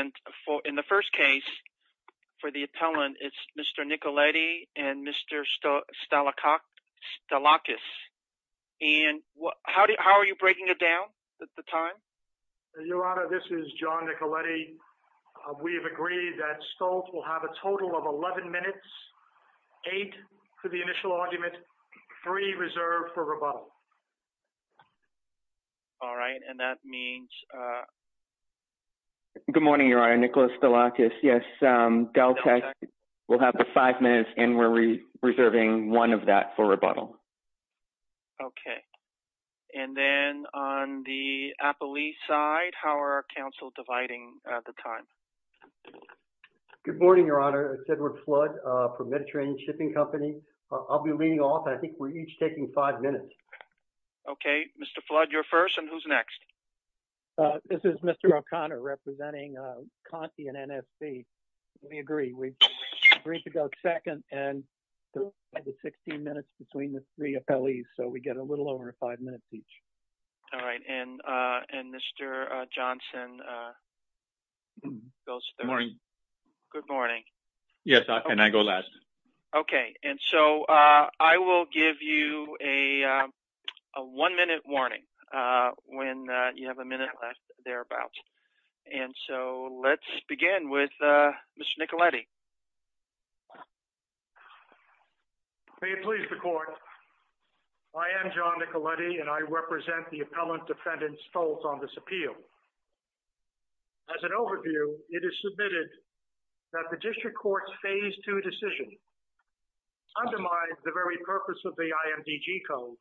And in the first case, for the appellant, it's Mr. Nicoletti and Mr. Stalacok Stalakis. And how are you breaking it down at the time? Your Honor, this is John Nicoletti. We have agreed that Stoltz will have a total of 11 minutes, 8 for the initial argument, 3 reserved for rebuttal. All right, and that means... Good morning, Your Honor, Nicholas Stalakis. Yes, DelTec will have the 5 minutes, and we're reserving 1 of that for rebuttal. Okay, and then on the appellee side, how are our counsel dividing at the time? Good morning, Your Honor. It's Edward Flood from Mediterranean Shipping Company. I'll be leading off, and I think we're each taking 5 minutes. Okay, Mr. Flood, you're first, and who's next? This is Mr. O'Connor representing Conti and NSC. We agree. We've agreed to go second, and 16 minutes between the three appellees, so we get a little over 5 minutes each. All right, and Mr. Johnson goes third. Good morning. Yes, and I go last. Okay, and so I will give you a 1-minute warning. When you have a minute left, thereabouts. And so let's begin with Mr. Nicoletti. May it please the Court. I am John Nicoletti, and I represent the appellant defendant Stoltz on this appeal. As an overview, it is submitted that the district court's Phase 2 decision undermines the very purpose of the IMDG Code,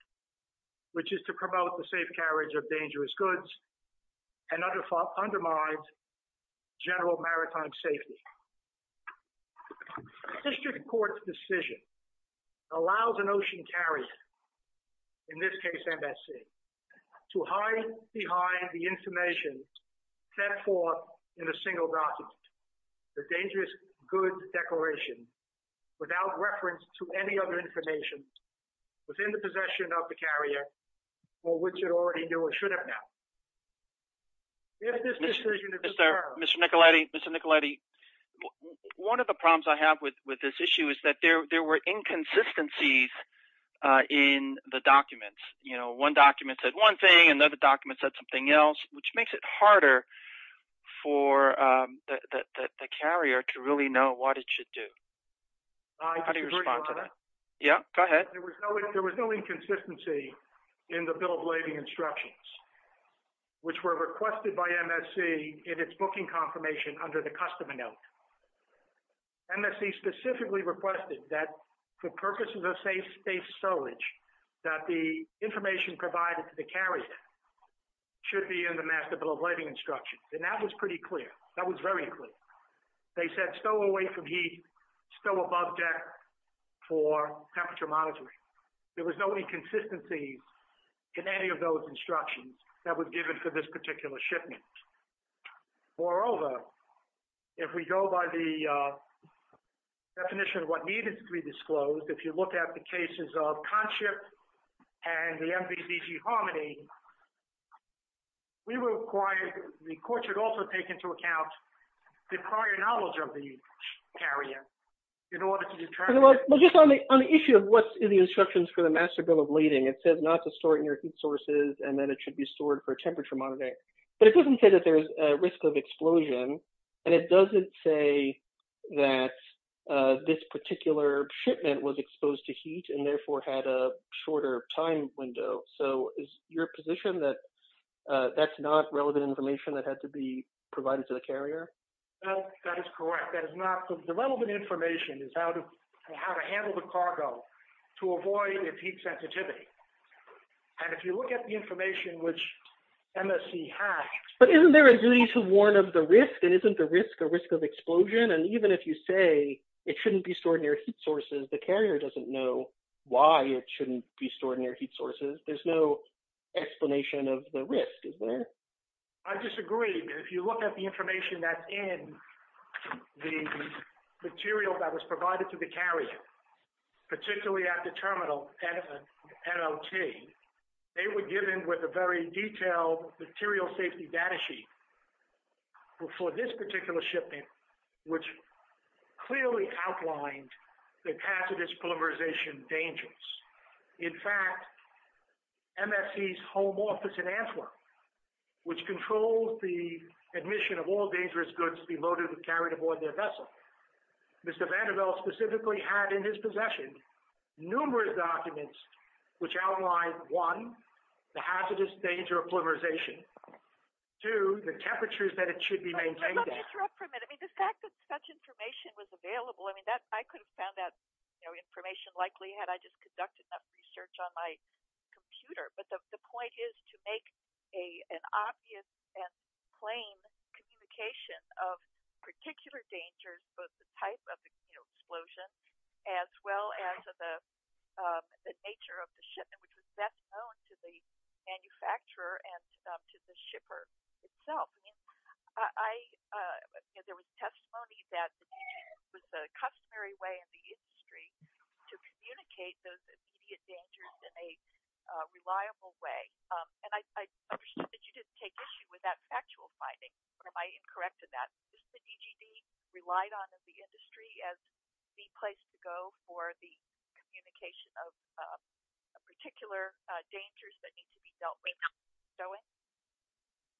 which is to promote the safe carriage of dangerous goods, and undermines general maritime safety. The district court's decision allows an ocean carrier, in this case NSC, to hide behind the information set forth in a single document, the dangerous goods declaration, without reference to any other information, within the possession of the carrier, for which it already knew it should have known. If this decision is deferred. Mr. Nicoletti, Mr. Nicoletti, one of the problems I have with this issue is that there were inconsistencies in the documents. You know, one document said one thing, another document said something else, which makes it harder for the carrier to really know what it should do. How do you respond to that? Yeah, go ahead. There was no inconsistency in the bill of lading instructions, which were requested by MSC in its booking confirmation under the customer note. MSC specifically requested that for purposes of safe space sewage, that the information provided to the carrier should be in the master bill of lading instructions. And that was pretty clear. That was very clear. They said stow away from heat, stow above deck for temperature monitoring. There was no inconsistency in any of those instructions that were given for this particular shipment. Moreover, if we go by the definition of what needed to be disclosed, if you look at the cases of CONSHIP and the MVBG Harmony, we require the court should also take into account the prior knowledge of the carrier in order to determine. Well, just on the issue of what's in the instructions for the master bill of lading, it says not to store it near heat sources and that it should be stored for temperature monitoring. But it doesn't say that there's a risk of explosion. And it doesn't say that this particular shipment was exposed to heat and therefore had a shorter time window. So is your position that that's not relevant information that had to be provided to the carrier? That is correct. That is not. The relevant information is how to handle the cargo to avoid heat sensitivity. And if you look at the information which MSC has. But isn't there a duty to warn of the risk? And isn't the risk a risk of explosion? And even if you say it shouldn't be stored near heat sources, the carrier doesn't know why it shouldn't be stored near heat sources. There's no explanation of the risk, is there? I disagree. If you look at the information that's in the material that was provided to the carrier, particularly at the terminal, NLT, they were given with a very detailed material safety data sheet for this particular shipment, which clearly outlined the hazardous polymerization dangers. In fact, MSC's home office in Antwerp, which controls the admission of all dangerous goods to be loaded and carried aboard their vessel, Mr. Vanderbilt specifically had in his possession numerous documents which outlined, one, the hazardous danger of polymerization, two, the temperatures that it should be maintained at. Let me interrupt for a minute. The fact that such information was available, I could have found that information likely had I just conducted enough research on my computer. But the point is to make an obvious and plain communication of particular dangers, both the type of explosion as well as the nature of the shipment, which was best known to the manufacturer and to the shipper itself. I mean, there was testimony that it was the customary way in the industry to communicate those immediate dangers in a reliable way. And I understand that you didn't take issue with that factual finding, but am I incorrect in that? Was the DGD relied on in the industry as the place to go for the communication of particular dangers that need to be dealt with?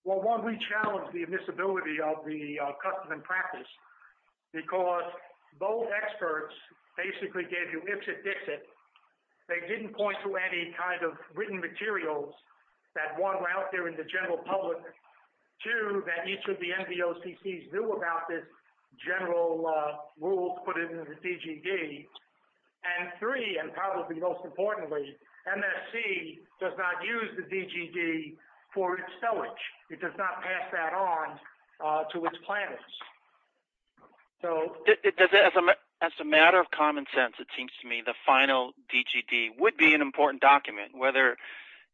Well, one, we challenged the admissibility of the custom and practice because both experts basically gave you ipsit-dixit. They didn't point to any kind of written materials that, one, were out there in the general public, two, that each of the NVOCCs knew about the general rules put into the DGD, and three, and probably most importantly, MSC does not use the DGD for its stowage. It does not pass that on to its planners. As a matter of common sense, it seems to me the final DGD would be an important document. Whether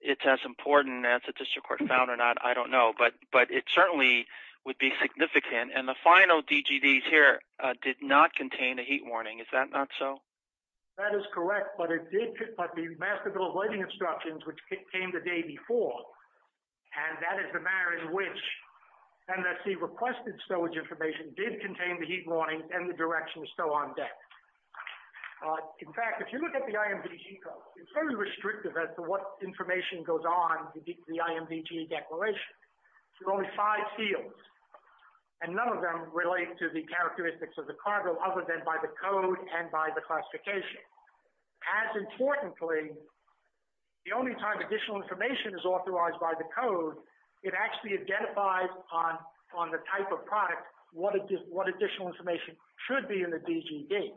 it's as important as the district court found or not, I don't know, but it certainly would be significant, and the final DGDs here did not contain a heat warning. Is that not so? That is correct, but it did put the master bill of lighting instructions, which came the day before, and that is the manner in which MSC requested stowage information did contain the heat warning and the direction to stow on deck. In fact, if you look at the IMVG code, it's very restrictive as to what information goes on in the IMVG declaration. There are only five fields, and none of them relate to the characteristics of the cargo other than by the code and by the classification. As importantly, the only time additional information is authorized by the code, it actually identifies on the type of product what additional information should be in the DGD.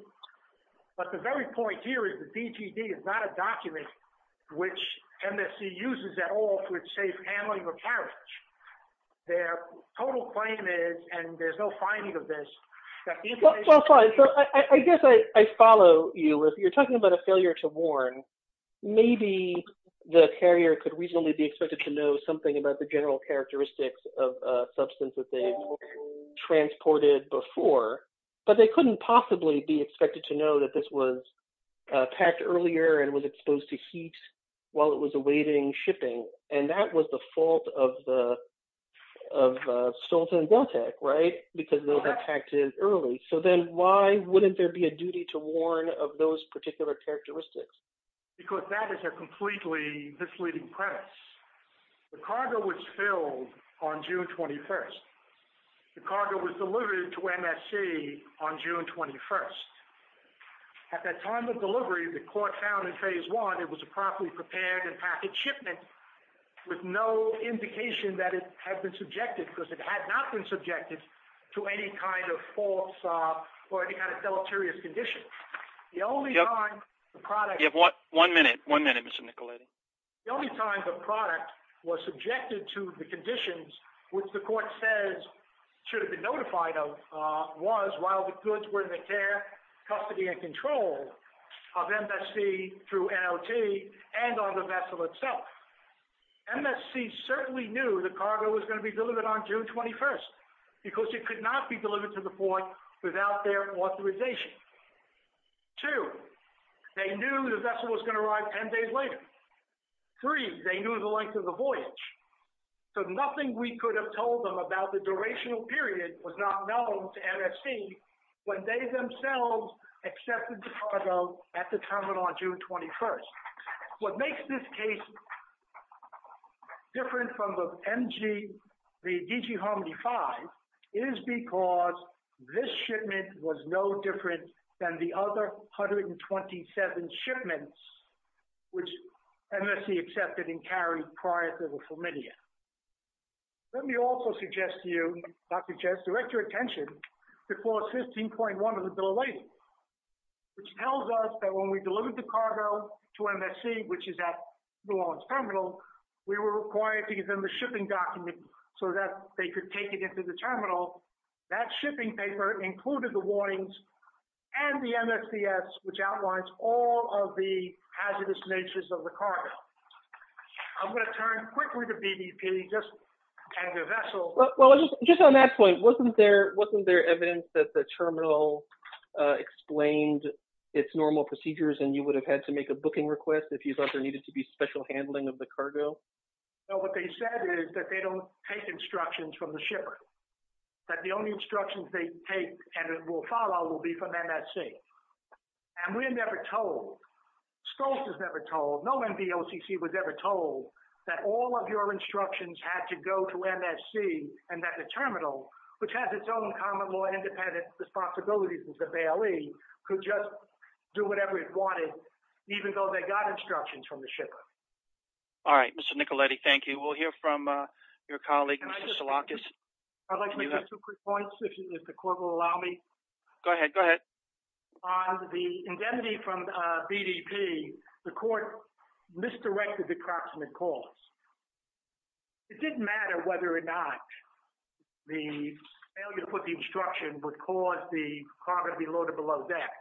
But the very point here is the DGD is not a document which MSC uses at all for its safe handling of carriage. Their total claim is, and there's no finding of this, that the information As I follow you, if you're talking about a failure to warn, maybe the carrier could reasonably be expected to know something about the general characteristics of a substance that they've transported before, but they couldn't possibly be expected to know that this was packed earlier and was exposed to heat while it was awaiting shipping, and that was the fault of Stolten and Galtek, right? So then why wouldn't there be a duty to warn of those particular characteristics? Because that is a completely misleading premise. The cargo was filled on June 21st. The cargo was delivered to MSC on June 21st. At that time of delivery, the court found in Phase 1 it was a properly prepared and packaged shipment with no indication that it had been subjected, because it had not been subjected, to any kind of false or any kind of deleterious condition. The only time the product... You have one minute. One minute, Mr. Nicoletti. The only time the product was subjected to the conditions which the court says should have been notified of was while the goods were in the care, custody, and control of MSC through NLT and on the vessel itself. MSC certainly knew the cargo was going to be delivered on June 21st, because it could not be delivered to the port without their authorization. Two, they knew the vessel was going to arrive 10 days later. Three, they knew the length of the voyage, so nothing we could have told them about the durational period was not known to MSC when they themselves accepted the cargo at the terminal on June 21st. What makes this case different from the DG Harmony 5 is because this shipment was no different than the other 127 shipments which MSC accepted and carried prior to the Flaminia. Let me also suggest to you, Dr. Jess, direct your attention to Clause 15.1 of the Bill of Rights, which tells us that when we delivered the cargo to MSC, which is at New Orleans Terminal, we were required to give them the shipping document so that they could take it into the terminal. That shipping paper included the warnings and the MSCS, which outlines all of the hazardous natures of the cargo. I'm going to turn quickly to BDP and the vessel. Just on that point, wasn't there evidence that the terminal explained its normal procedures and you would have had to make a booking request if you thought there needed to be special handling of the cargo? No, what they said is that they don't take instructions from the shipper. That the only instructions they take and will follow will be from MSC. And we're never told. Stolz was never told. No NBOCC was ever told that all of your instructions had to go to MSC and that the terminal, which has its own common law independent responsibilities with the Bailey, could just do whatever it wanted, even though they got instructions from the shipper. All right, Mr. Nicoletti, thank you. We'll hear from your colleague, Mr. Salakis. I'd like to make two quick points, if the court will allow me. Go ahead, go ahead. On the indemnity from BDP, the court misdirected the approximate cost. It didn't matter whether or not the failure to put the instruction would cause the cargo to be loaded below deck.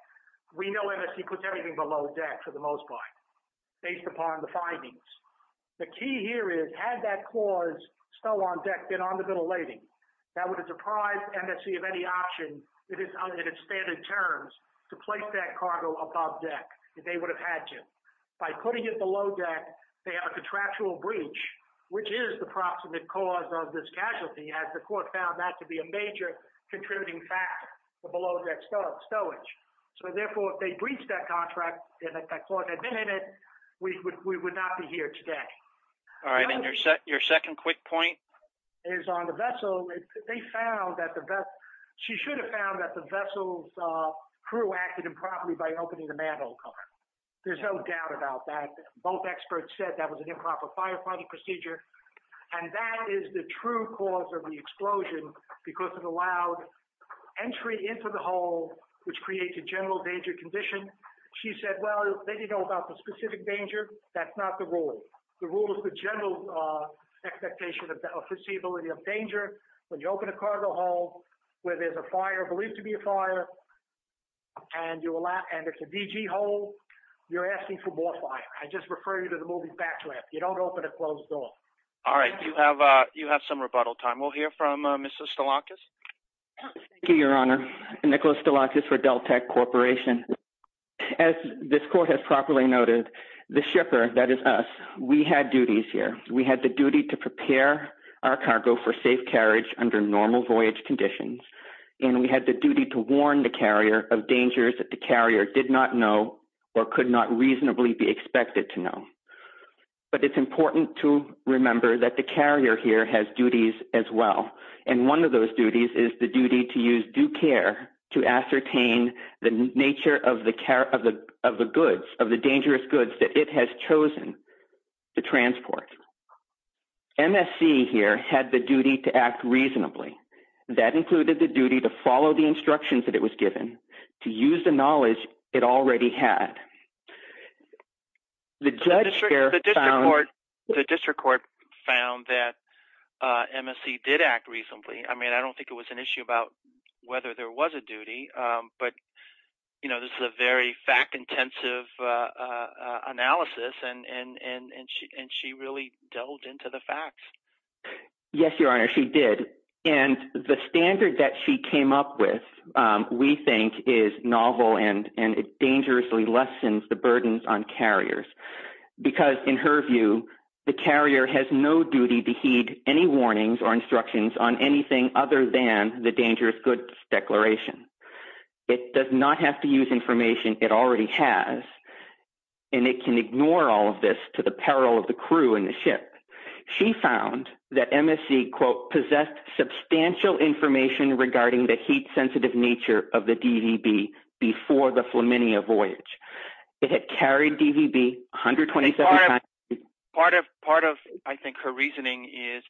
We know MSC puts everything below deck for the most part, based upon the findings. The key here is, had that clause, stow on deck, been on the middle lady, that would have surprised MSC of any option, in its standard terms, to place that cargo above deck. They would have had to. By putting it below deck, they have a contractual breach, which is the approximate cause of this casualty, as the court found that to be a major contributing factor to below deck stowage. So therefore, if they breached that contract, and that clause had been in it, we would not be here today. All right, and your second quick point? Is on the vessel, they found that the vessel, she should have found that the vessel's crew acted improperly by opening the mantel cover. There's no doubt about that. Both experts said that was an improper firefighting procedure, and that is the true cause of the explosion, because it allowed entry into the hull, which creates a general danger condition. She said, well, they didn't know about the specific danger. That's not the rule. The rule is the general expectation of the foreseeability of danger. When you open a cargo hull, where there's a fire, believed to be a fire, and it's a DG hull, you're asking for more fire. I just refer you to the moving back lamp. You don't open a closed door. All right, you have some rebuttal time. We'll hear from Mr. Stolakis. Thank you, Your Honor. Nicholas Stolakis for DelTec Corporation. As this court has properly noted, the shipper, that is us, we had duties here. We had the duty to prepare our cargo for safe carriage under normal voyage conditions, and we had the duty to warn the carrier of dangers that the carrier did not know or could not reasonably be expected to know. But it's important to remember that the carrier here has duties as well, and one of those duties is the duty to use due care to ascertain the nature of the goods, of the dangerous goods that it has chosen to transport. MSC here had the duty to act reasonably. That included the duty to follow the instructions that it was given, to use the knowledge it already had. The district court found that MSC did act reasonably. I mean, I don't think it was an issue about whether there was a duty, but this is a very fact-intensive analysis, and she really delved into the facts. Yes, Your Honor, she did. And the standard that she came up with we think is novel and it dangerously lessens the burdens on carriers because, in her view, the carrier has no duty to heed any warnings or instructions on anything other than the dangerous goods declaration. It does not have to use information it already has, and it can ignore all of this to the peril of the crew and the ship. She found that MSC, quote, substantial information regarding the heat-sensitive nature of the DVB before the Flaminia voyage. It had carried DVB 127 times. Part of, I think, her reasoning is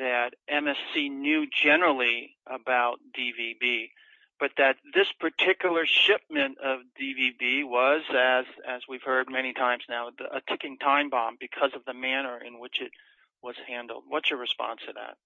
that MSC knew generally about DVB, but that this particular shipment of DVB was, as we've heard many times now, a ticking time bomb because of the manner in which it was handled. What's your response to that?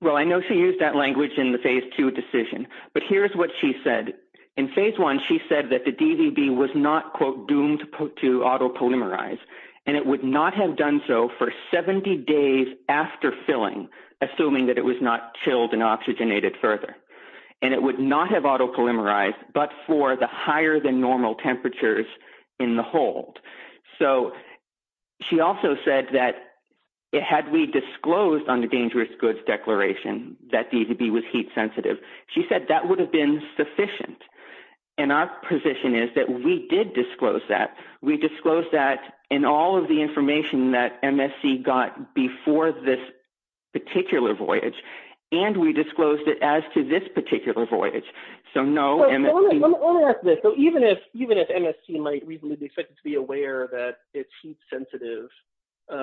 Well, I know she used that language in the Phase II decision, but here's what she said. In Phase I, she said that the DVB was not, quote, doomed to auto-polymerize, and it would not have done so for 70 days after filling, assuming that it was not chilled and oxygenated further. And it would not have auto-polymerized but for the higher-than-normal temperatures in the hold. So she also said that, had we disclosed on the dangerous goods declaration that DVB was heat-sensitive, she said that would have been sufficient. And our position is that we did disclose that. We disclosed that in all of the information that MSC got before this particular voyage, and we disclosed it as to this particular voyage. Let me ask this. So even if MSC might reasonably be expected to be aware that it's heat-sensitive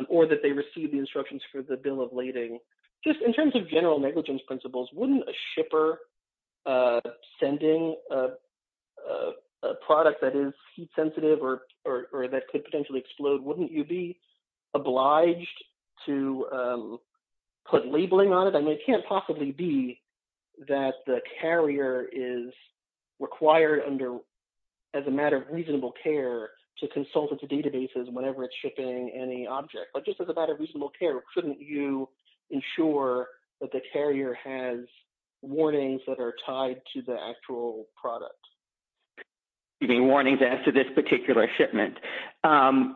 or that they received the instructions for the bill of lading, just in terms of general negligence principles, wouldn't a shipper sending a product that is heat-sensitive or that could potentially explode, wouldn't you be obliged to put labeling on it? It can't possibly be that the carrier is required under, as a matter of reasonable care, to consult its databases whenever it's shipping any object. But just as a matter of reasonable care, couldn't you ensure that the carrier has warnings that are tied to the actual product? You mean warnings as to this particular shipment? Well,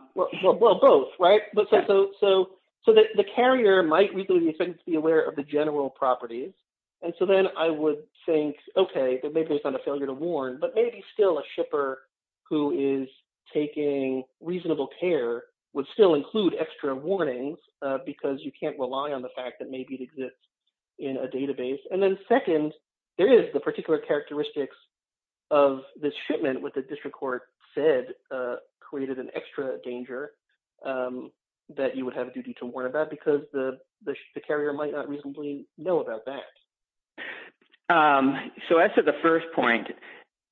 both, right? So the carrier might reasonably be expected to be aware of the general properties. And so then I would think, okay, maybe it's not a failure to warn, but maybe still a shipper who is taking reasonable care would still include extra warnings because you can't rely on the fact that maybe it exists in a database. And then second, there is the particular characteristics of this shipment, what the district court said created an extra danger that you would have a duty to warn about because the carrier might not reasonably know about that. So as to the first point,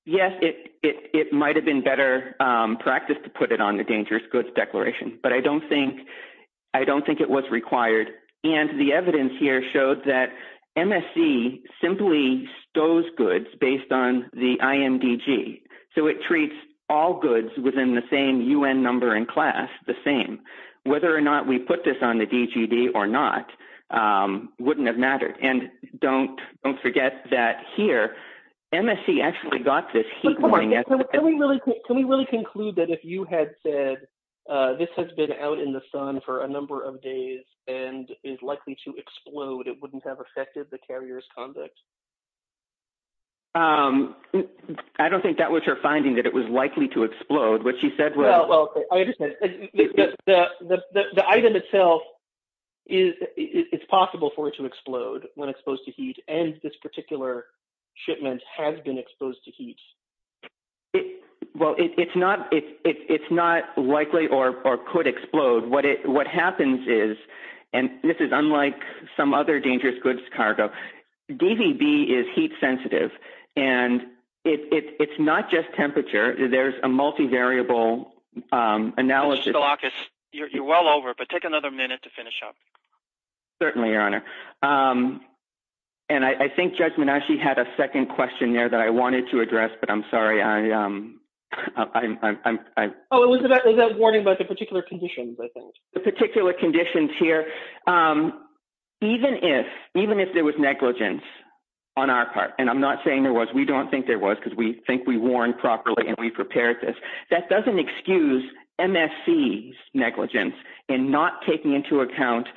yes, it might've been better practice to put it on the dangerous goods declaration, but I don't think it was required. And the evidence here showed that MSC simply stows goods based on the carrier's conduct. So it treats all goods within the same UN number and class the same, whether or not we put this on the DGD or not wouldn't have mattered. And don't forget that here, MSC actually got this heat warning. Can we really conclude that if you had said this has been out in the sun for a number of days and is likely to explode, it wouldn't have affected the carrier's conduct? I don't think that was her finding that it was likely to explode, which she said. Well, the item itself is it's possible for it to explode when exposed to heat. And this particular shipment has been exposed to heat. Well, it's not, it's, it's, it's not likely or, or could explode. What it, what happens is, and this is unlike some other dangerous goods, cargo DVB is heat sensitive and it's not just temperature. There's a multivariable analysis. You're well over, but take another minute to finish up. Certainly your honor. And I think judgment actually had a second question there that I wanted to address, but I'm sorry. I'm I'm I'm. Oh, it was about that warning about the particular conditions. I think the particular conditions here, Even if, even if there was negligence on our part, and I'm not saying there was, we don't think there was because we think we warned properly and we prepared this. That doesn't excuse MSC negligence and not taking into account.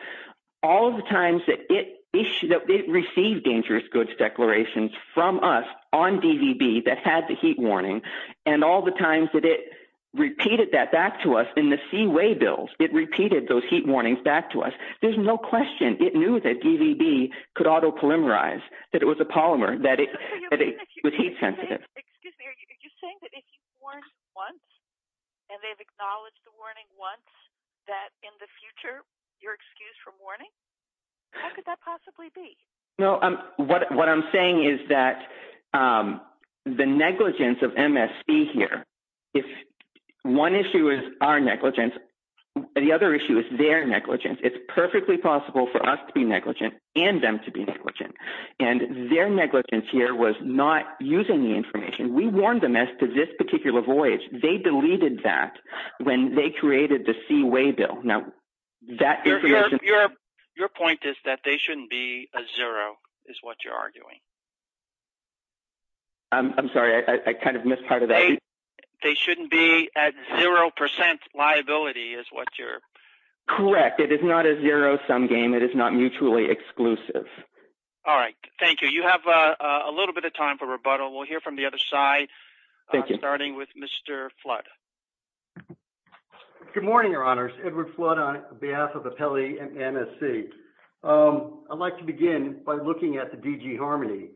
All of the times that it issued up, it received dangerous goods declarations from us on DVB that had the heat warning. And all the times that it repeated that back to us in the seaway bills, it repeated those heat warnings back to us. There's no question. It knew that DVB could auto polymerize, that it was a polymer, that it was heat sensitive. Excuse me. Are you saying that if you weren't once. And they've acknowledged the warning once that in the future, you're excused from warning. How could that possibly be? No. What I'm saying is that the negligence of MSC here. If one issue is our negligence. The other issue is their negligence. It's perfectly possible for us to be negligent and them to be negligent. And their negligence here was not using the information. We warned them as to this particular voyage. They deleted that when they created the seaway bill. Now that. Your point is that they shouldn't be a zero is what you're arguing. I'm sorry. I kind of missed part of that. They shouldn't be at 0% liability is what you're correct. It is not a zero sum game. It is not mutually exclusive. All right. Thank you. You have a little bit of time for rebuttal. We'll hear from the other side. Thank you. Starting with Mr. Flood. Good morning. Your honors. Edward flood on behalf of the Pele and MSC. I'd like to begin by looking at the DG harmony.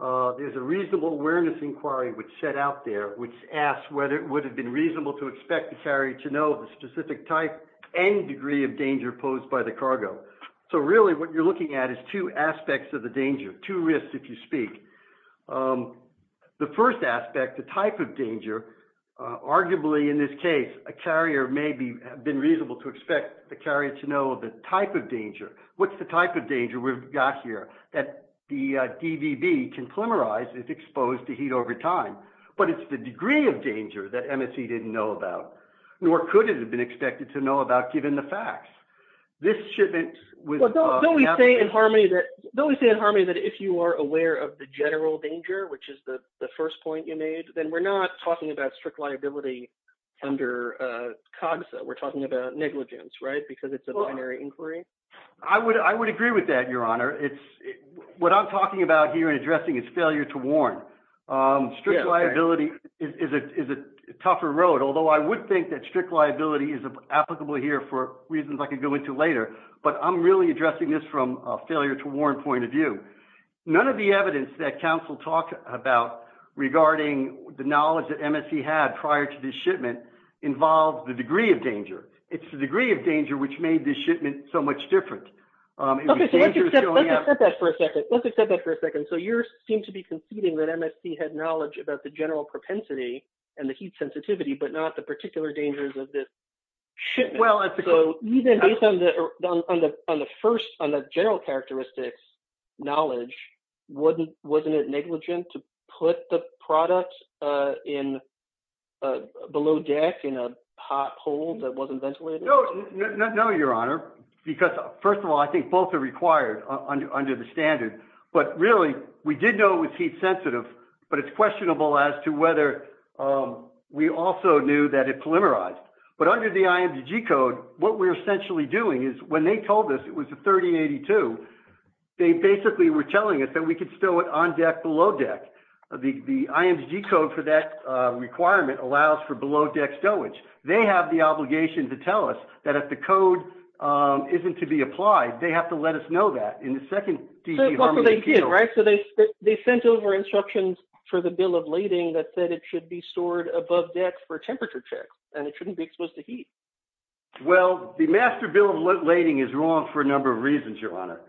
There's a reasonable awareness inquiry which set out there, which asks whether it would have been reasonable to expect the ferry to know the specific type and degree of danger posed by the cargo. So really what you're looking at is two aspects of the danger, two risks if you speak. The first aspect, the type of danger, arguably in this case a carrier may have been reasonable to expect the carrier to know the type of danger. What's the type of danger we've got here? That the DVB can polymerize if exposed to heat over time. But it's the degree of danger that MSC didn't know about. Nor could it have been expected to know about given the facts. This shipment. Well, don't we say in harmony that. Don't we say in harmony that if you are aware of the general danger, which is the first point you made, then we're not talking about strict liability under COGS. We're talking about negligence, right? Because it's a binary inquiry. I would, I would agree with that. Your honor. It's what I'm talking about here and addressing is failure to warn. Strict liability. Is it, is it tougher road? Although I would think that strict liability is applicable here for reasons I could go into later, but I'm really addressing this from a failure to warn point of view. None of the evidence that council talked about regarding the knowledge that MSC had prior to the shipment involved the degree of danger. It's the degree of danger, which made the shipment so much different. Let's accept that for a second. Let's accept that for a second. So you seem to be conceding that MSC had knowledge about the general propensity and the heat sensitivity, but not the particular dangers of this. Well, So even based on the, on the, on the first, on the general characteristics knowledge, wouldn't, wasn't it negligent to put the product in. Below deck in a hot pole that wasn't ventilated. No, your honor, because first of all, I think both are required. Under the standard, but really we did know it was heat sensitive, but it's questionable as to whether we also knew that it polymerized, but under the IMG code, what we're essentially doing is when they told us it was a 3082, they basically were telling us that we could still on deck below deck. The IMG code for that requirement allows for below deck stowage. They have the obligation to tell us that if the code isn't to be applied, they have to let us know that in the second. Right. So they, they sent over instructions for the bill of lading that said it should be stored above decks for temperature checks and it shouldn't be exposed to heat. Well, the master bill of lading is wrong for a number of reasons, your honor.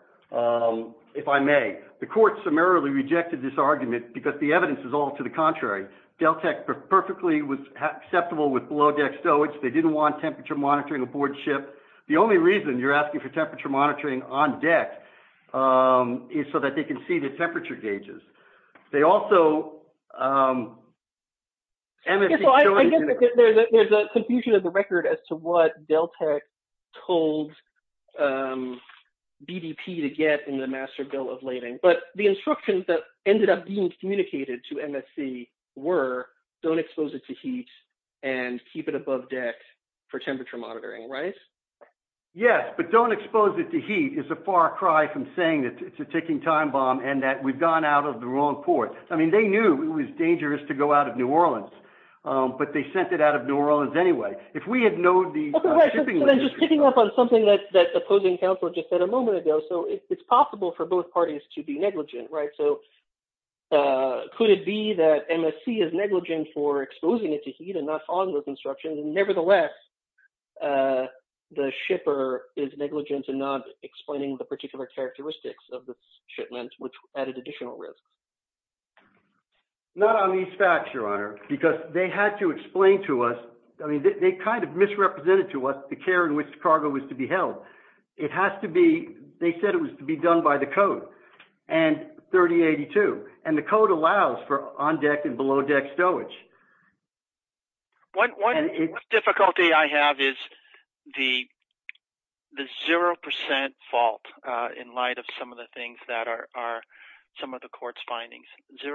If I may, the court summarily rejected this argument because the evidence is all to the contrary. Delta perfectly was acceptable with below deck stowage. They didn't want temperature monitoring aboard ship. The only reason you're asking for temperature monitoring on deck. Is so that they can see the temperature gauges. They also. There's a confusion of the record as to what Deltech told. BDP to get in the master bill of lading, but the instructions that ended up being communicated to MSC were don't expose it to heat. And keep it above deck for temperature monitoring, right? I don't want to try from saying that it's a ticking time bomb and that we've gone out of the wrong port. I mean, they knew it was dangerous to go out of new Orleans, but they sent it out of new Orleans. Anyway, if we had known the. Just picking up on something that. That opposing counsel just said a moment ago. So it's possible for both parties to be negligent, right? So. Could it be that. The ship is negligent for exposing it to heat and not following those instructions and nevertheless. The shipper is negligent to not explaining the particular characteristics of the shipment, which added additional risks. Not on these facts, your honor, because they had to explain to us. I mean, they kind of misrepresented to us. The care in which the cargo was to be held. It has to be, they said it was to be done by the code. And 30 82. And the code allows for on deck and below deck stowage. One difficulty I have is the. The 0% fault in light of some of the things that are, are. Some of the court's findings 0%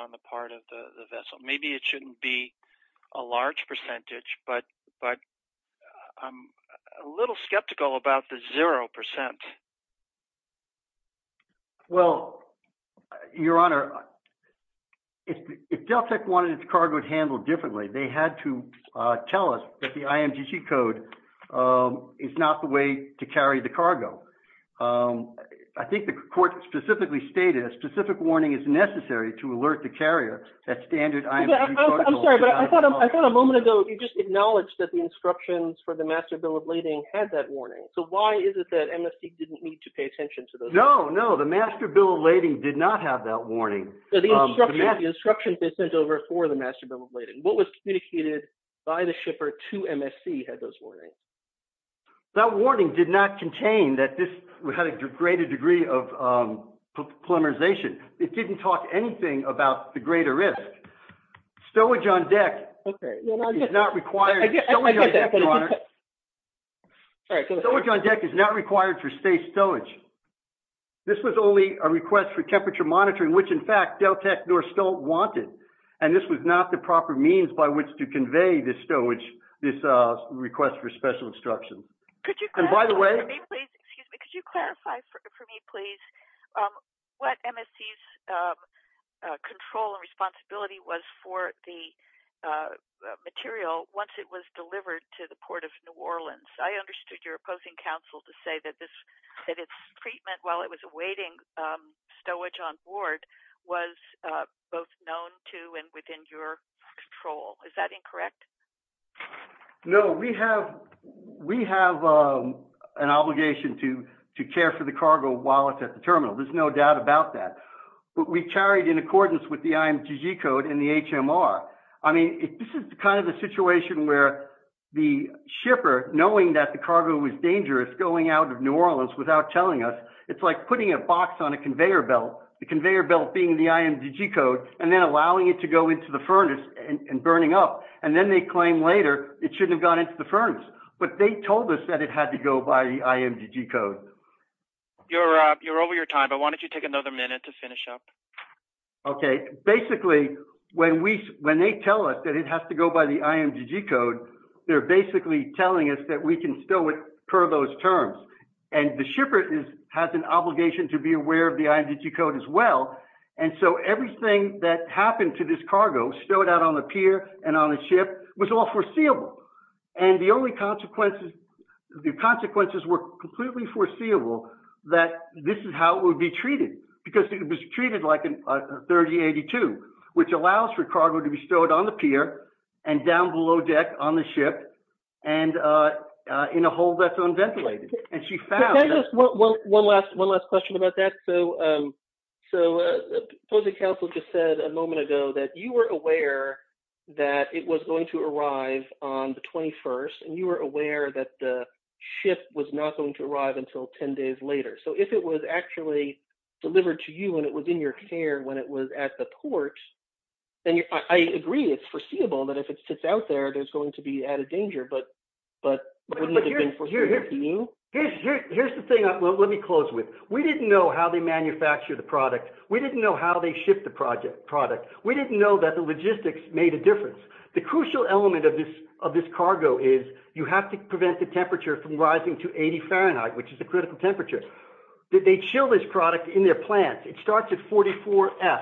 on the part of the vessel. Maybe it shouldn't be. A large percentage, but, but. I'm a little skeptical about the 0%. Well, your honor. If Delta wanted its card would handle differently. They had to. Tell us that the code. It's not the way to carry the cargo. I think the court specifically stated a specific warning is necessary to alert the carrier. That standard. I'm sorry, but I thought. I thought a moment ago, you just acknowledged that the instructions for the master bill of lading did not have that warning. So why is it that didn't need to pay attention to those? No, no. The master bill of lading did not have that warning. The instructions they sent over for the master bill of lading. What was communicated by the shipper to MSC had those warnings. That warning did not contain that. We had a greater degree of polymerization. It didn't talk anything about the greater risk. So what John deck. Okay. It's not required. All right. So what John deck is not required for state stowage. This was only a request for temperature monitoring, which in fact, they'll tech North still wanted. And this was not the proper means by which to convey the stowage. This request for special instruction. Could you, and by the way. Excuse me, could you clarify for me, please? What MSC's. Control and responsibility was for the. Material once it was delivered to the port of new Orleans. I understood your opposing counsel to say that this. That it's treatment while it was awaiting stowage on board. Was. Both known to, and within your. Control. Is that incorrect? No, we have, we have. An obligation to, to care for the cargo while it's at the terminal. There's no doubt about that. We carried in accordance with the IMTG code in the HMR. I mean, this is kind of the situation where. The shipper knowing that the cargo was dangerous going out of new Orleans without telling us. It's like putting a box on a conveyor belt. The conveyor belt being the IMTG code and then allowing it to go into the furnace and burning up. And then they claim later it shouldn't have gone into the furnace. But they told us that it had to go by the IMTG code. You're you're over your time, but why don't you take another minute to finish up? Okay. Basically. When we, when they tell us that it has to go by the IMTG code. They're basically telling us that we can still. Per those terms. And the shipper is has an obligation to be aware of the IMTG code as well. And so everything that happened to this cargo stowed out on the pier and on the ship was all foreseeable. And the only consequences, the consequences were completely foreseeable that this is how it would be treated. Because it was treated like a 3082, which allows for cargo to be stored on the pier and down below deck on the ship. And in a hole that's unventilated. And she found. One last, one last question about that. So, so. The council just said a moment ago that you were aware. That it was going to arrive on the 21st and you were aware that the ship was not going to arrive until 10 days later. So if it was actually delivered to you and it was in your care when it was at the port. And I agree. It's foreseeable that if it sits out there, there's going to be added danger, but, but. Here's the thing. Let me close with, we didn't know how they manufacture the product. We didn't know how they ship the project product. We didn't know that the logistics made a difference. The crucial element of this, of this cargo is. You have to prevent the temperature from rising to 80 Fahrenheit, which is a critical temperature. They chill this product in their plants. It starts at 44 F.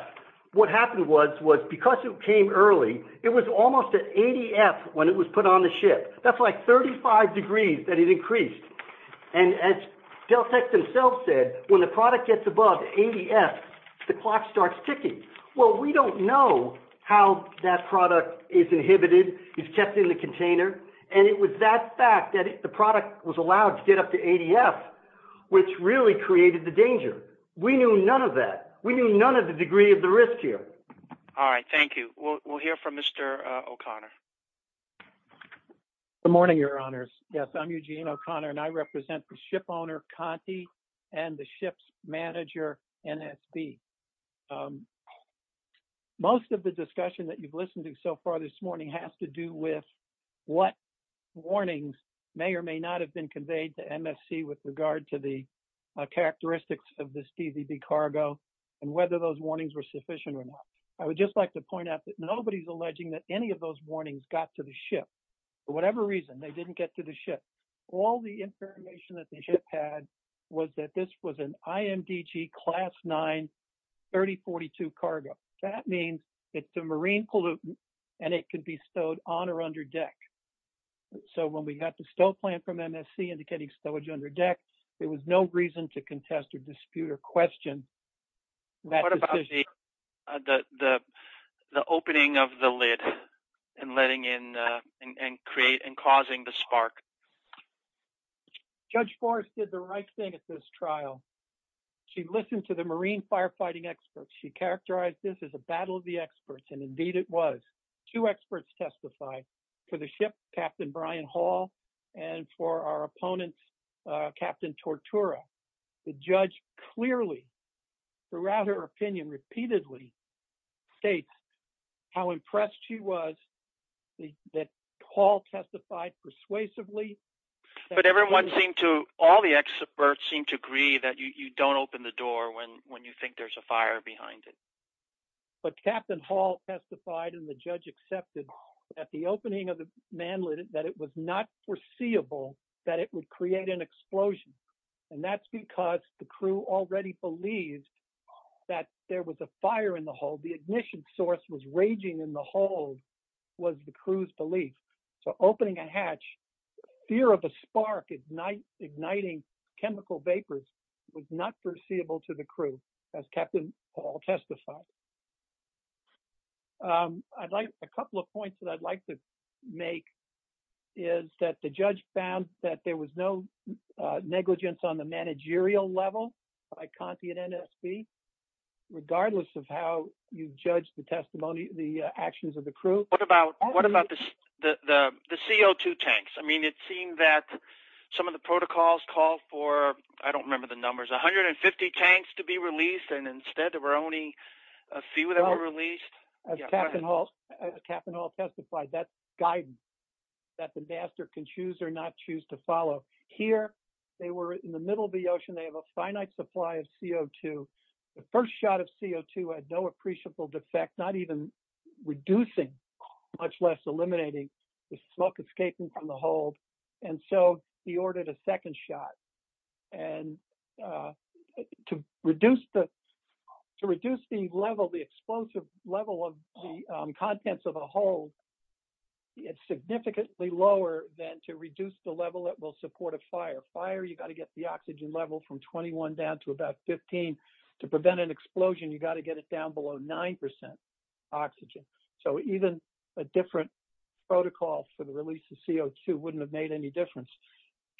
What happened was, was because it came early, it was almost at 80 F when it was put on the ship. That's like 35 degrees that it increased. And as Dell tech themselves said, when the product gets above 80 F. The clock starts ticking. Well, we don't know how that product is inhibited. It's kept in the container. And it was that fact that the product was allowed to get up to 80 F, which really created the danger. We knew none of that. We knew none of the degree of the risk here. All right. Thank you. We'll, we'll hear from Mr. O'Connor. Good morning, your honors. Yes. I'm Eugene O'Connor and I represent the ship owner Conti and the ship's manager NSB. Most of the discussion that you've listened to so far this morning has to do with what warnings may or may not have been conveyed to MSC with regard to the characteristics of this DVB cargo and whether those warnings were sufficient or not. I would just like to point out that nobody's alleging that any of those warnings got to the ship for whatever reason they didn't get to the ship. All the information that the ship had was that this was an IMDG class nine 3042 cargo. That means it's a marine pollutant and it could be stowed on or under deck. So when we got the stow plan from MSC indicating stowage under deck, there was no reason to contest or dispute or question that decision. The opening of the lid and letting in and create and causing the spark Judge Forrest did the right thing at this trial. She listened to the marine firefighting experts. She characterized this as a battle of the experts and indeed it was. Two experts testified for the ship, Captain Brian Hall and for our opponents, Captain Tortura. The judge clearly throughout her opinion repeatedly states how impressed she was that Hall testified persuasively. But everyone seemed to all the experts seem to agree that you don't open the door when you think there's a fire behind it. But Captain Hall testified and the judge accepted at the opening of the man lid that it was not foreseeable that it would create an explosion. And that's because the crew already believed that there was a fire in the vessel. The ignition source was raging in the hull was the crew's belief. So opening a hatch, fear of a spark igniting chemical vapors was not foreseeable to the crew as Captain Hall testified. I'd like a couple of points that I'd like to make is that the judge found that there was no negligence on the managerial level by Conti and NSB regardless of how you judge the testimony, the actions of the crew. What about what about the CO2 tanks? I mean, it seemed that some of the protocols call for I don't remember the numbers, 150 tanks to be released. And instead there were only a few that were released. Captain Hall testified that guidance that the master can choose or not choose to follow. Here they were in the middle of the first shot of CO2 had no appreciable defect, not even reducing much less eliminating the smoke escaping from the hole. And so he ordered a second shot. And to reduce the to reduce the level, the explosive level of the contents of a hole, it's significantly lower than to reduce the level that will support a fire fire. You've got to get the oxygen level from 21 down to about 15 to prevent an explosion. You've got to get it down below 9 percent oxygen. So even a different protocol for the release of CO2 wouldn't have made any difference.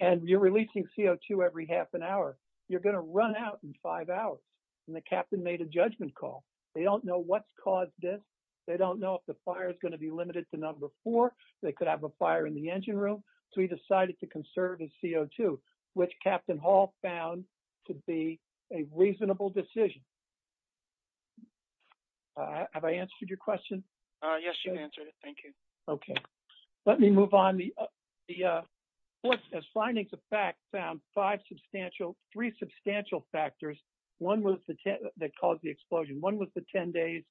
And you're releasing CO2 every half an hour. You're going to run out in five hours. And the captain made a judgment call. They don't know what's caused this. They don't know if the fire is going to be limited to number four. They could have a fire in the engine room. So he decided to conserve his CO2, which Captain Hall found to be a reasonable decision. Have I answered your question? Yes, you answered it. Thank you. Okay. Let me move on. The findings of fact found five substantial three substantial factors. One was that caused the explosion. One was the 10 days.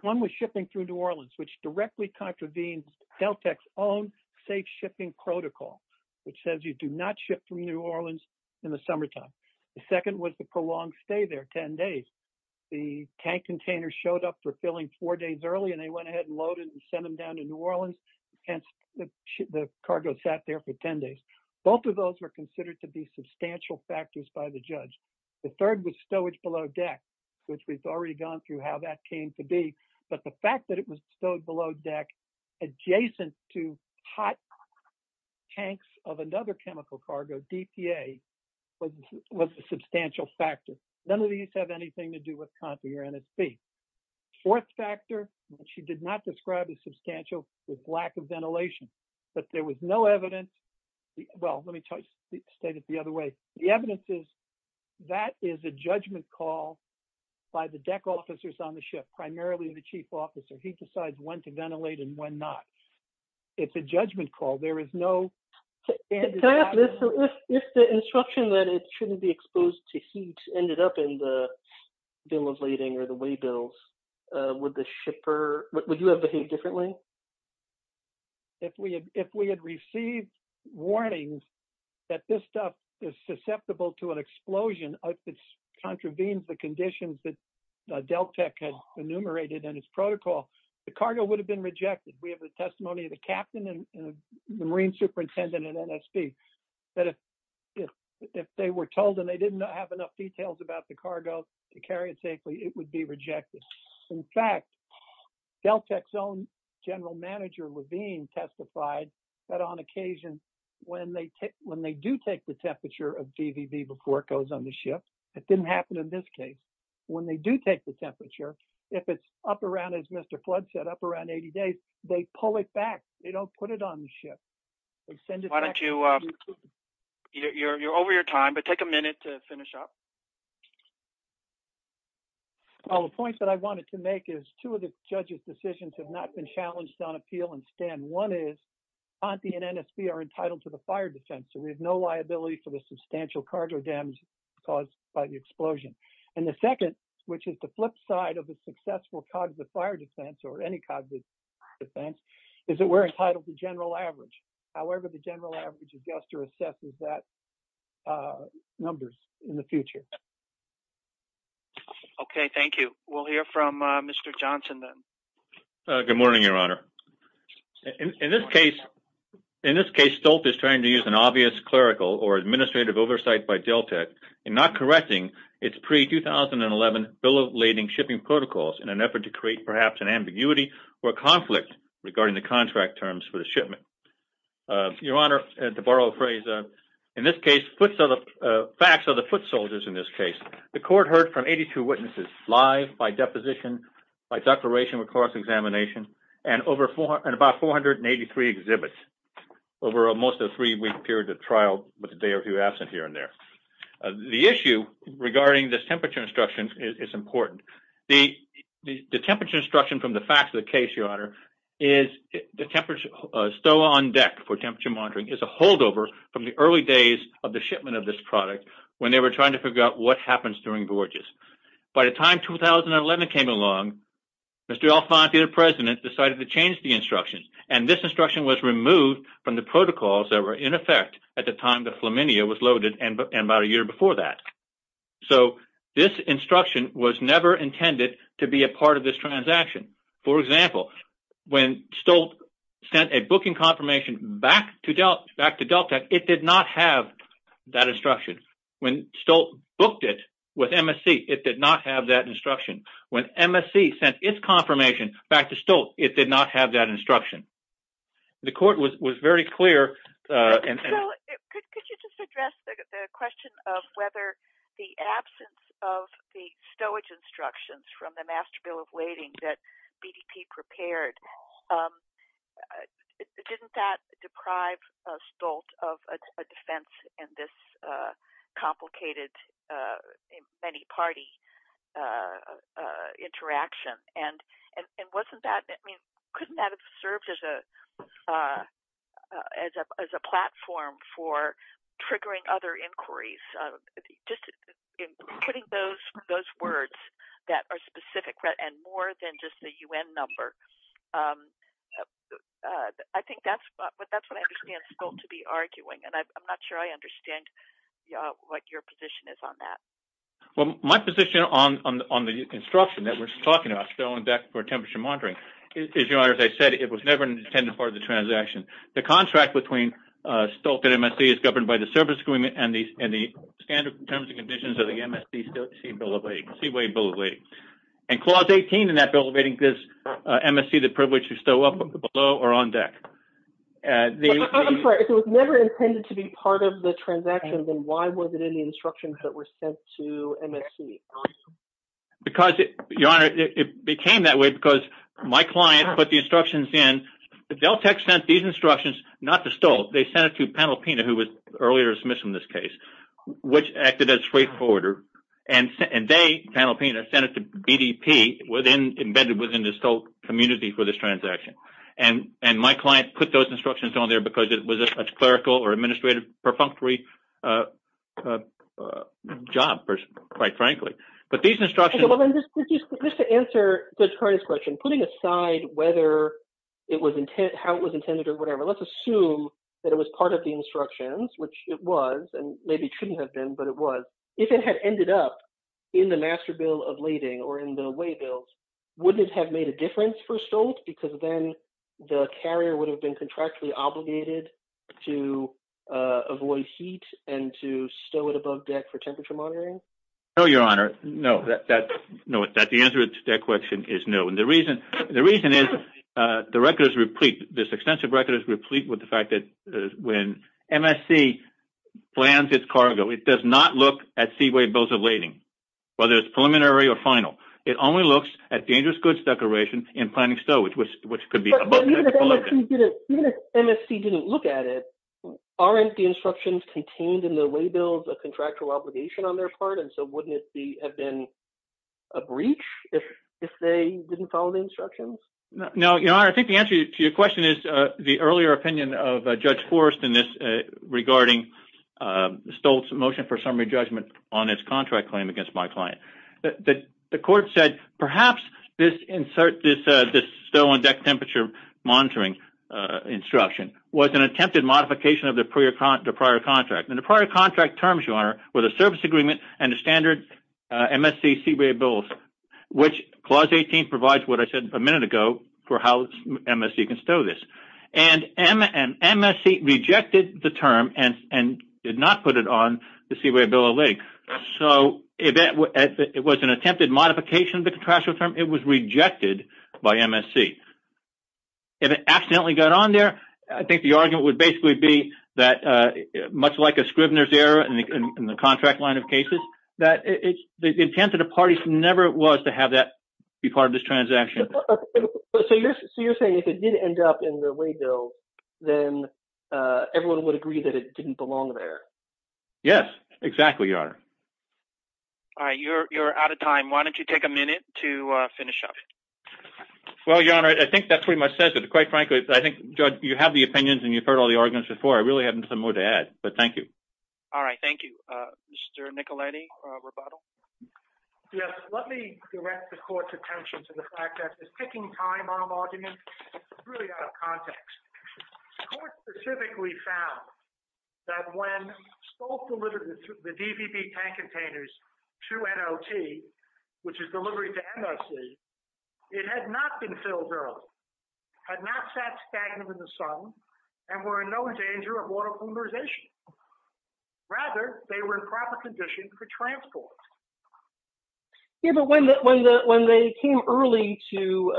One was shipping through New Orleans, which directly contravenes Delta's own safe shipping protocol, which says you do not ship from New Orleans in the summertime. The second was the prolonged stay there 10 days. The tank container showed up for filling four days early, and they went ahead and loaded and sent them down to New Orleans. And the cargo sat there for 10 days. Both of those were considered to be substantial factors by the judge. The third was stowage below deck, which we've already gone through how that came to be. But the fact that it was stowed below deck adjacent to hot tanks of another chemical cargo DPA was a substantial factor. None of these have anything to do with Conti or NSP. Fourth factor, which she did not describe as substantial, was lack of ventilation, but there was no evidence. Well, let me tell you, state it the other way. The evidence is that is a judgment call by the deck officers on the ship, primarily the chief officer. He decides when to ventilate and when not. It's a judgment call. There is no... If the instruction that it shouldn't be exposed to heat ended up in the bill of lading or the way bills, would the shipper, would you have behaved differently? If we had received warnings that this stuff is susceptible to an explosion, and if it's contravenes the conditions that DelTec had enumerated in its protocol, the cargo would have been rejected. We have a testimony of the captain and the Marine superintendent and NSP that if they were told and they didn't have enough details about the cargo to carry it safely, it would be rejected. In fact, DelTec's own general manager Levine testified that on occasion, when they do take the temperature of DVV before it goes on the ship, it didn't happen in this case. When they do take the temperature, if it's up around, as Mr. Flood said, up around 80 days, they pull it back. They don't put it on the ship. Why don't you... You're over your time, but take a minute to finish up. Well, the point that I wanted to make is two of the judge's decisions have not been challenged on appeal and stand. One is Conti and NSP are entitled to the fire defense, so we have no liability for the substantial cargo damage caused by the explosion. And the second, which is the flip side of the successful cognitive fire defense or any cognitive defense, is that we're entitled to general average. However, the general average adjuster assesses that numbers in the future. Okay. Thank you. We'll hear from Mr. Johnson then. Good morning, Your Honor. In this case, Stoltz is trying to use an obvious clerical or administrative oversight by Deltek in not correcting its pre-2011 bill of lading shipping protocols in an effort to create perhaps an ambiguity or a conflict regarding the contract terms for the shipment. Your Honor, to borrow a phrase, in this case, facts are the foot soldiers in this case. The court heard from 82 witnesses live by deposition, by declaration of course examination, and about 483 exhibits over most of the three-week period of trial, with a day or two absent here and there. The issue regarding this temperature instruction is important. The temperature instruction from the facts of the case, Your Honor, is the temperature, STOA on deck for temperature monitoring is a holdover from the early days of the shipment of this product when they were trying to figure out what happens during gorges. By the time 2011 came along, Mr. Alphonte, the president, decided to change the instructions, and this instruction was removed from the protocols that were in effect at the time the Flaminia was loaded and about a year before that. So this instruction was never intended to be a part of this transaction. For example, when Stoltz sent a booking confirmation back to Deltek, it did not have that instruction. When Stoltz booked it with MSC, it did not have that instruction. When MSC sent its confirmation back to Stoltz, it did not have that instruction. The court was very clear. Could you just address the question of whether the absence of the stowage instructions from the master bill of lading that BDP prepared, didn't that deprive Stoltz of a defense in this case? It's a complicated, many-party interaction. Couldn't that have served as a platform for triggering other inquiries? Putting those words that are specific and more than just the UN number, I think that's what I understand Stoltz to be arguing. I'm not sure I understand what your position is on that. My position on the instruction that we're talking about, stowing deck for temperature monitoring, as I said, it was never intended to be a part of the transaction. The contract between Stoltz and MSC is governed by the service agreement and the standard terms and conditions of the MSC stowage bill of lading. Clause 18 in that bill of lading gives MSC the privilege to stow up, below, or on deck. I'm sorry, if it was never intended to be part of the transaction, then why was it in the instructions that were sent to MSC? Because, Your Honor, it became that way because my client put the instructions in. Deltech sent these instructions, not to Stoltz, they sent it to Panel Pena, who was earlier dismissed from this case, which acted as a straightforwarder. And they, Panel Pena, sent it to BDP, embedded within the Stoltz community for this transaction. And my client put those instructions on there because it was a clerical or administrative perfunctory job, quite frankly. But these instructions... Just to answer Judge Carney's question, putting aside how it was intended or whatever, let's assume that it was part of the instructions, which it was, and maybe shouldn't have been, but it was. If it had ended up in the master bill of lading or in the way bills, wouldn't it have made a difference for Stoltz? Meaning the carrier would have been contractually obligated to avoid heat and to stow it above deck for temperature monitoring? No, Your Honor, no. The answer to that question is no. And the reason is the record is replete, this extensive record is replete with the fact that when MSC plans its cargo, it does not look at seaway bills of lading, whether it's preliminary or final. It only looks at dangerous goods declaration in planning stowage, but even if MSC didn't look at it, aren't the instructions contained in the way bills a contractual obligation on their part? And so wouldn't it have been a breach if they didn't follow the instructions? No, Your Honor, I think the answer to your question is the earlier opinion of Judge Forrest in this, regarding Stoltz's motion for summary judgment on its contract claim against my client. The court said perhaps this insert, this stow on deck temperature monitoring instruction was an attempted modification of the prior contract. And the prior contract terms, Your Honor, were the service agreement and the standard MSC seaway bills, which Clause 18 provides what I said a minute ago for how MSC can stow this. And MSC rejected the term and did not put it on the seaway bill of lading. So it was an attempted modification of the contractual term. It was rejected by MSC. If it accidentally got on there, I think the argument would basically be that much like a Scribner's error in the contract line of cases, the intent of the parties never was to have that be part of this transaction. So you're saying if it did end up in the way bill, Yes, exactly, Your Honor. All right, you're out of time. Why don't you take a minute to finish up? Well, Your Honor, I think that pretty much says it. Quite frankly, I think you have the opinions and you've heard all the arguments before. I really haven't some more to add, but thank you. All right, thank you. Mr. Nicoletti, rebuttal. Yes, let me direct the court's attention to the fact that it's taking time on an argument. It's really out of context. The court specifically found that when SCOF delivered the DVB tank containers to NOT, which is delivery to MSC, it had not been filled early, had not sat stagnant in the sun, and were in no danger of water pulverization. Rather, they were in proper condition for transport. Yeah, but when they came early to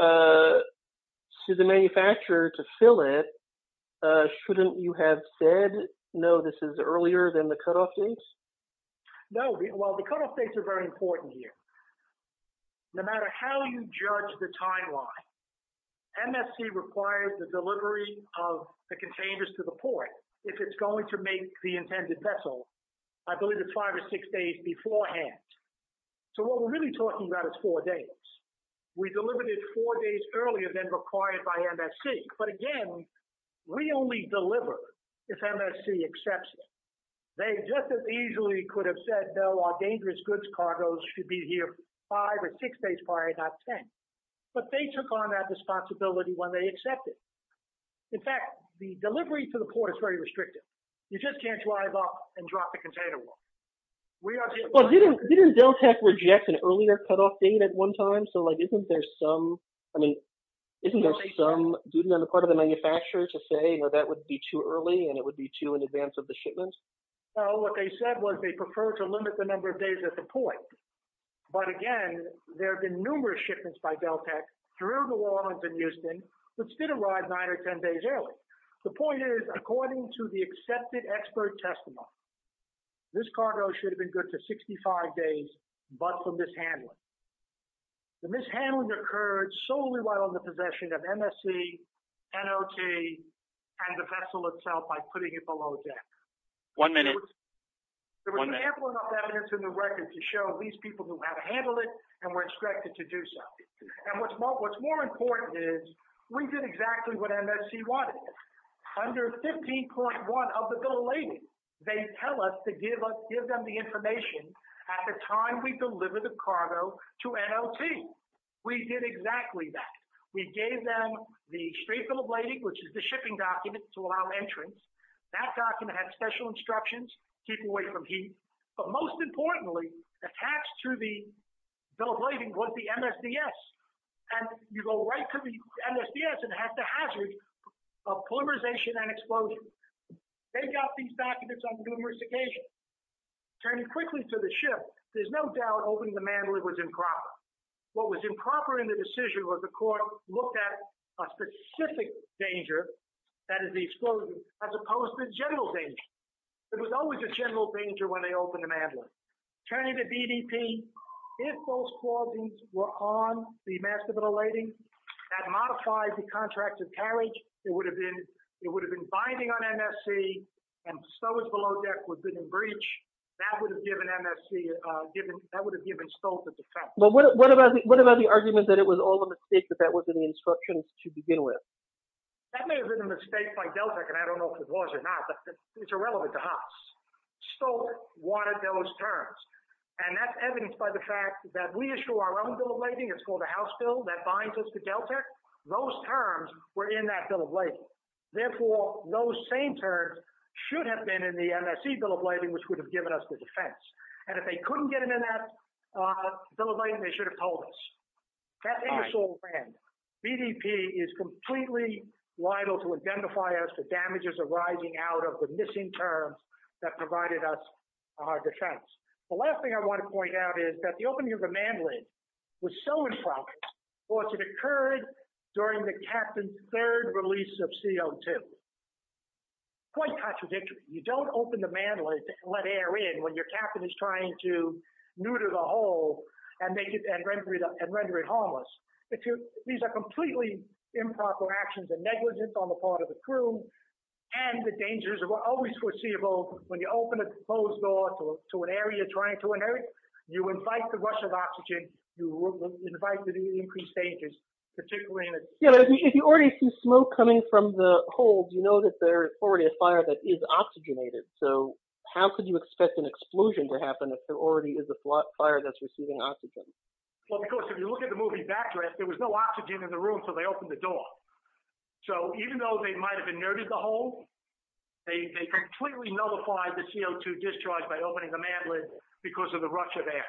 the manufacturer to fill it, shouldn't you have said, no, this is earlier than the cutoff dates? No, well, the cutoff dates are very important here. No matter how you judge the timeline, MSC requires the delivery of the containers to the port if it's going to make the intended vessel, I believe it's five or six days beforehand. So what we're really talking about is four days. We delivered it four days earlier than required by MSC. But again, we only deliver if MSC accepts it. They just as easily could have said, no, our dangerous goods cargos should be here five or six days prior, not ten. But they took on that responsibility when they accepted. In fact, the delivery to the port is very restrictive. You just can't drive off and drop the container off. Well, didn't Dell Tech reject an earlier cutoff date at one time? So, like, isn't there some, I mean, isn't there some duty on the part of the manufacturer to say, you know, that would be too early and it would be too in advance of the shipment? Well, what they said was they prefer to limit the number of days at the point. But again, there have been numerous shipments by Dell Tech through New Orleans and Houston which did arrive nine or ten days early. The point is, according to the accepted expert testimony, this cargo should have been good to 65 days, but for mishandling. The mishandling occurred solely while in the possession of MSC, NLT, and the vessel itself by putting it below deck. One minute. There was ample enough evidence in the record to show these people who had handled it and were instructed to do so. And what's more important is we did exactly what MSC wanted. Under 15.1 of the bill of lading, they tell us to give them the information at the time we deliver the cargo to NLT. We did exactly that. We gave them the straight bill of lading, which is the shipping document to allow entrance. That document had special instructions to keep away from heat. But most importantly, attached to the bill of lading was the MSDS. And you go right to the MSDS and it has the hazards of polymerization and explosion. They got these documents on numerous occasions. Turning quickly to the ship, there's no doubt opening the mandala was improper. What was improper in the decision was the court looked at a specific danger, that is the explosion, as opposed to the general danger. There was always a general danger when they opened the mandala. Turning to DDP, if those clauses were on the master bill of lading, that modified the contract of carriage, it would have been binding on MSC and stowage below deck would have been in breach. That would have given MSC, that would have given Stoltz a defense. But what about the argument that it was all a mistake, that that was in the instructions to begin with? That may have been a mistake by Deltek, and I don't know if it was or not, but it's irrelevant to us. Stoltz wanted those terms. And that's evidenced by the fact that we issue our own bill of lading, it's called a house bill that binds us to Deltek. Therefore, those same terms should have been in the MSC bill of lading, and that would have given us the defense. And if they couldn't get it in that bill of lading, they should have told us. That thing is all random. DDP is completely liable to identify us for damages arising out of the missing terms that provided us our defense. The last thing I want to point out is that the opening of the mandala was so in progress because it occurred during the captain's third release of CO2. Quite contradictory. You don't open the mandala when there's a fire in, when your captain is trying to neuter the hole and render it harmless. These are completely improper actions and negligence on the part of the crew, and the dangers are always foreseeable when you open a closed door to an area trying to inert. You invite the rush of oxygen, you invite the increased dangers, particularly in a... If you already see smoke coming from the holes, you know that there is already a fire that is oxygenated. You don't expect an explosion to happen if there already is a fire that's receiving oxygen. Well, because if you look at the movie Backdraft, there was no oxygen in the room so they opened the door. So even though they might have inerted the hole, they completely nullified the CO2 discharge by opening the mandala because of the rush of air.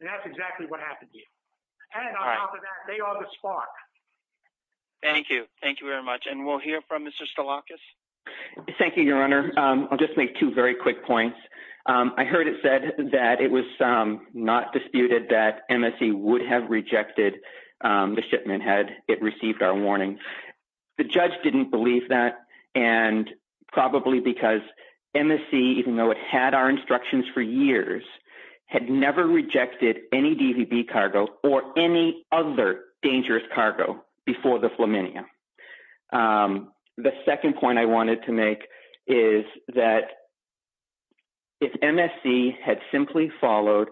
And that's exactly what happened here. And on top of that, they are the spark. Thank you. Thank you very much. And we'll hear from Mr. Stalakis. I heard it said that it was not disputed that MSC would have rejected the shipment had it received our warning. The judge didn't believe that and probably because MSC, even though it had our instructions for years, had never rejected any DVB cargo or any other dangerous cargo before the Flaminia. The second point I wanted to make is that if MSC had simply followed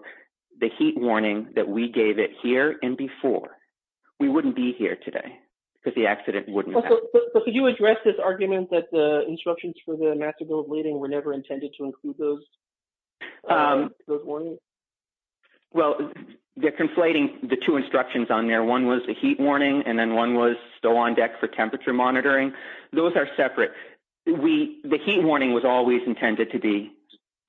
the heat warning that we gave it here and before, we wouldn't be here today because the accident wouldn't have happened. But could you address this argument that the instructions for the master building were never intended to include those warnings? Well, they're conflating the two instructions on there. One was the heat warning and then one was still on deck for temperature monitoring. Those are separate. The heat warning was always intended to be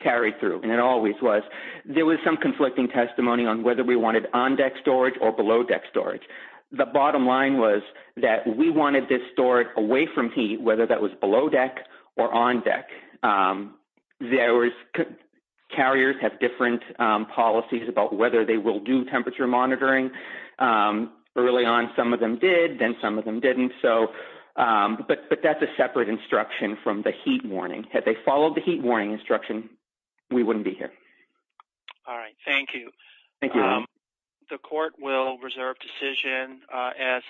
carried through and it always was. There was some conflicting testimony on whether we wanted on deck storage or below deck storage. The bottom line was that we wanted this storage away from heat, whether that was below deck or on deck. Carriers have different policies about whether they will do temperature monitoring. Early on, some of them did, then some of them didn't. But that's a separate instruction from the heat warning. Had they followed the heat warning instruction, we wouldn't be here. All right. Thank you. The court will reserve decision. As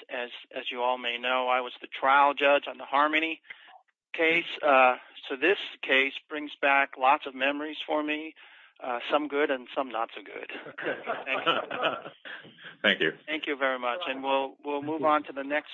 you all may know, I was the trial judge on the Harmony case. So this case brings back lots of memories for me, some good and some not so good. Thank you. Thank you very much. And we'll move on to the next.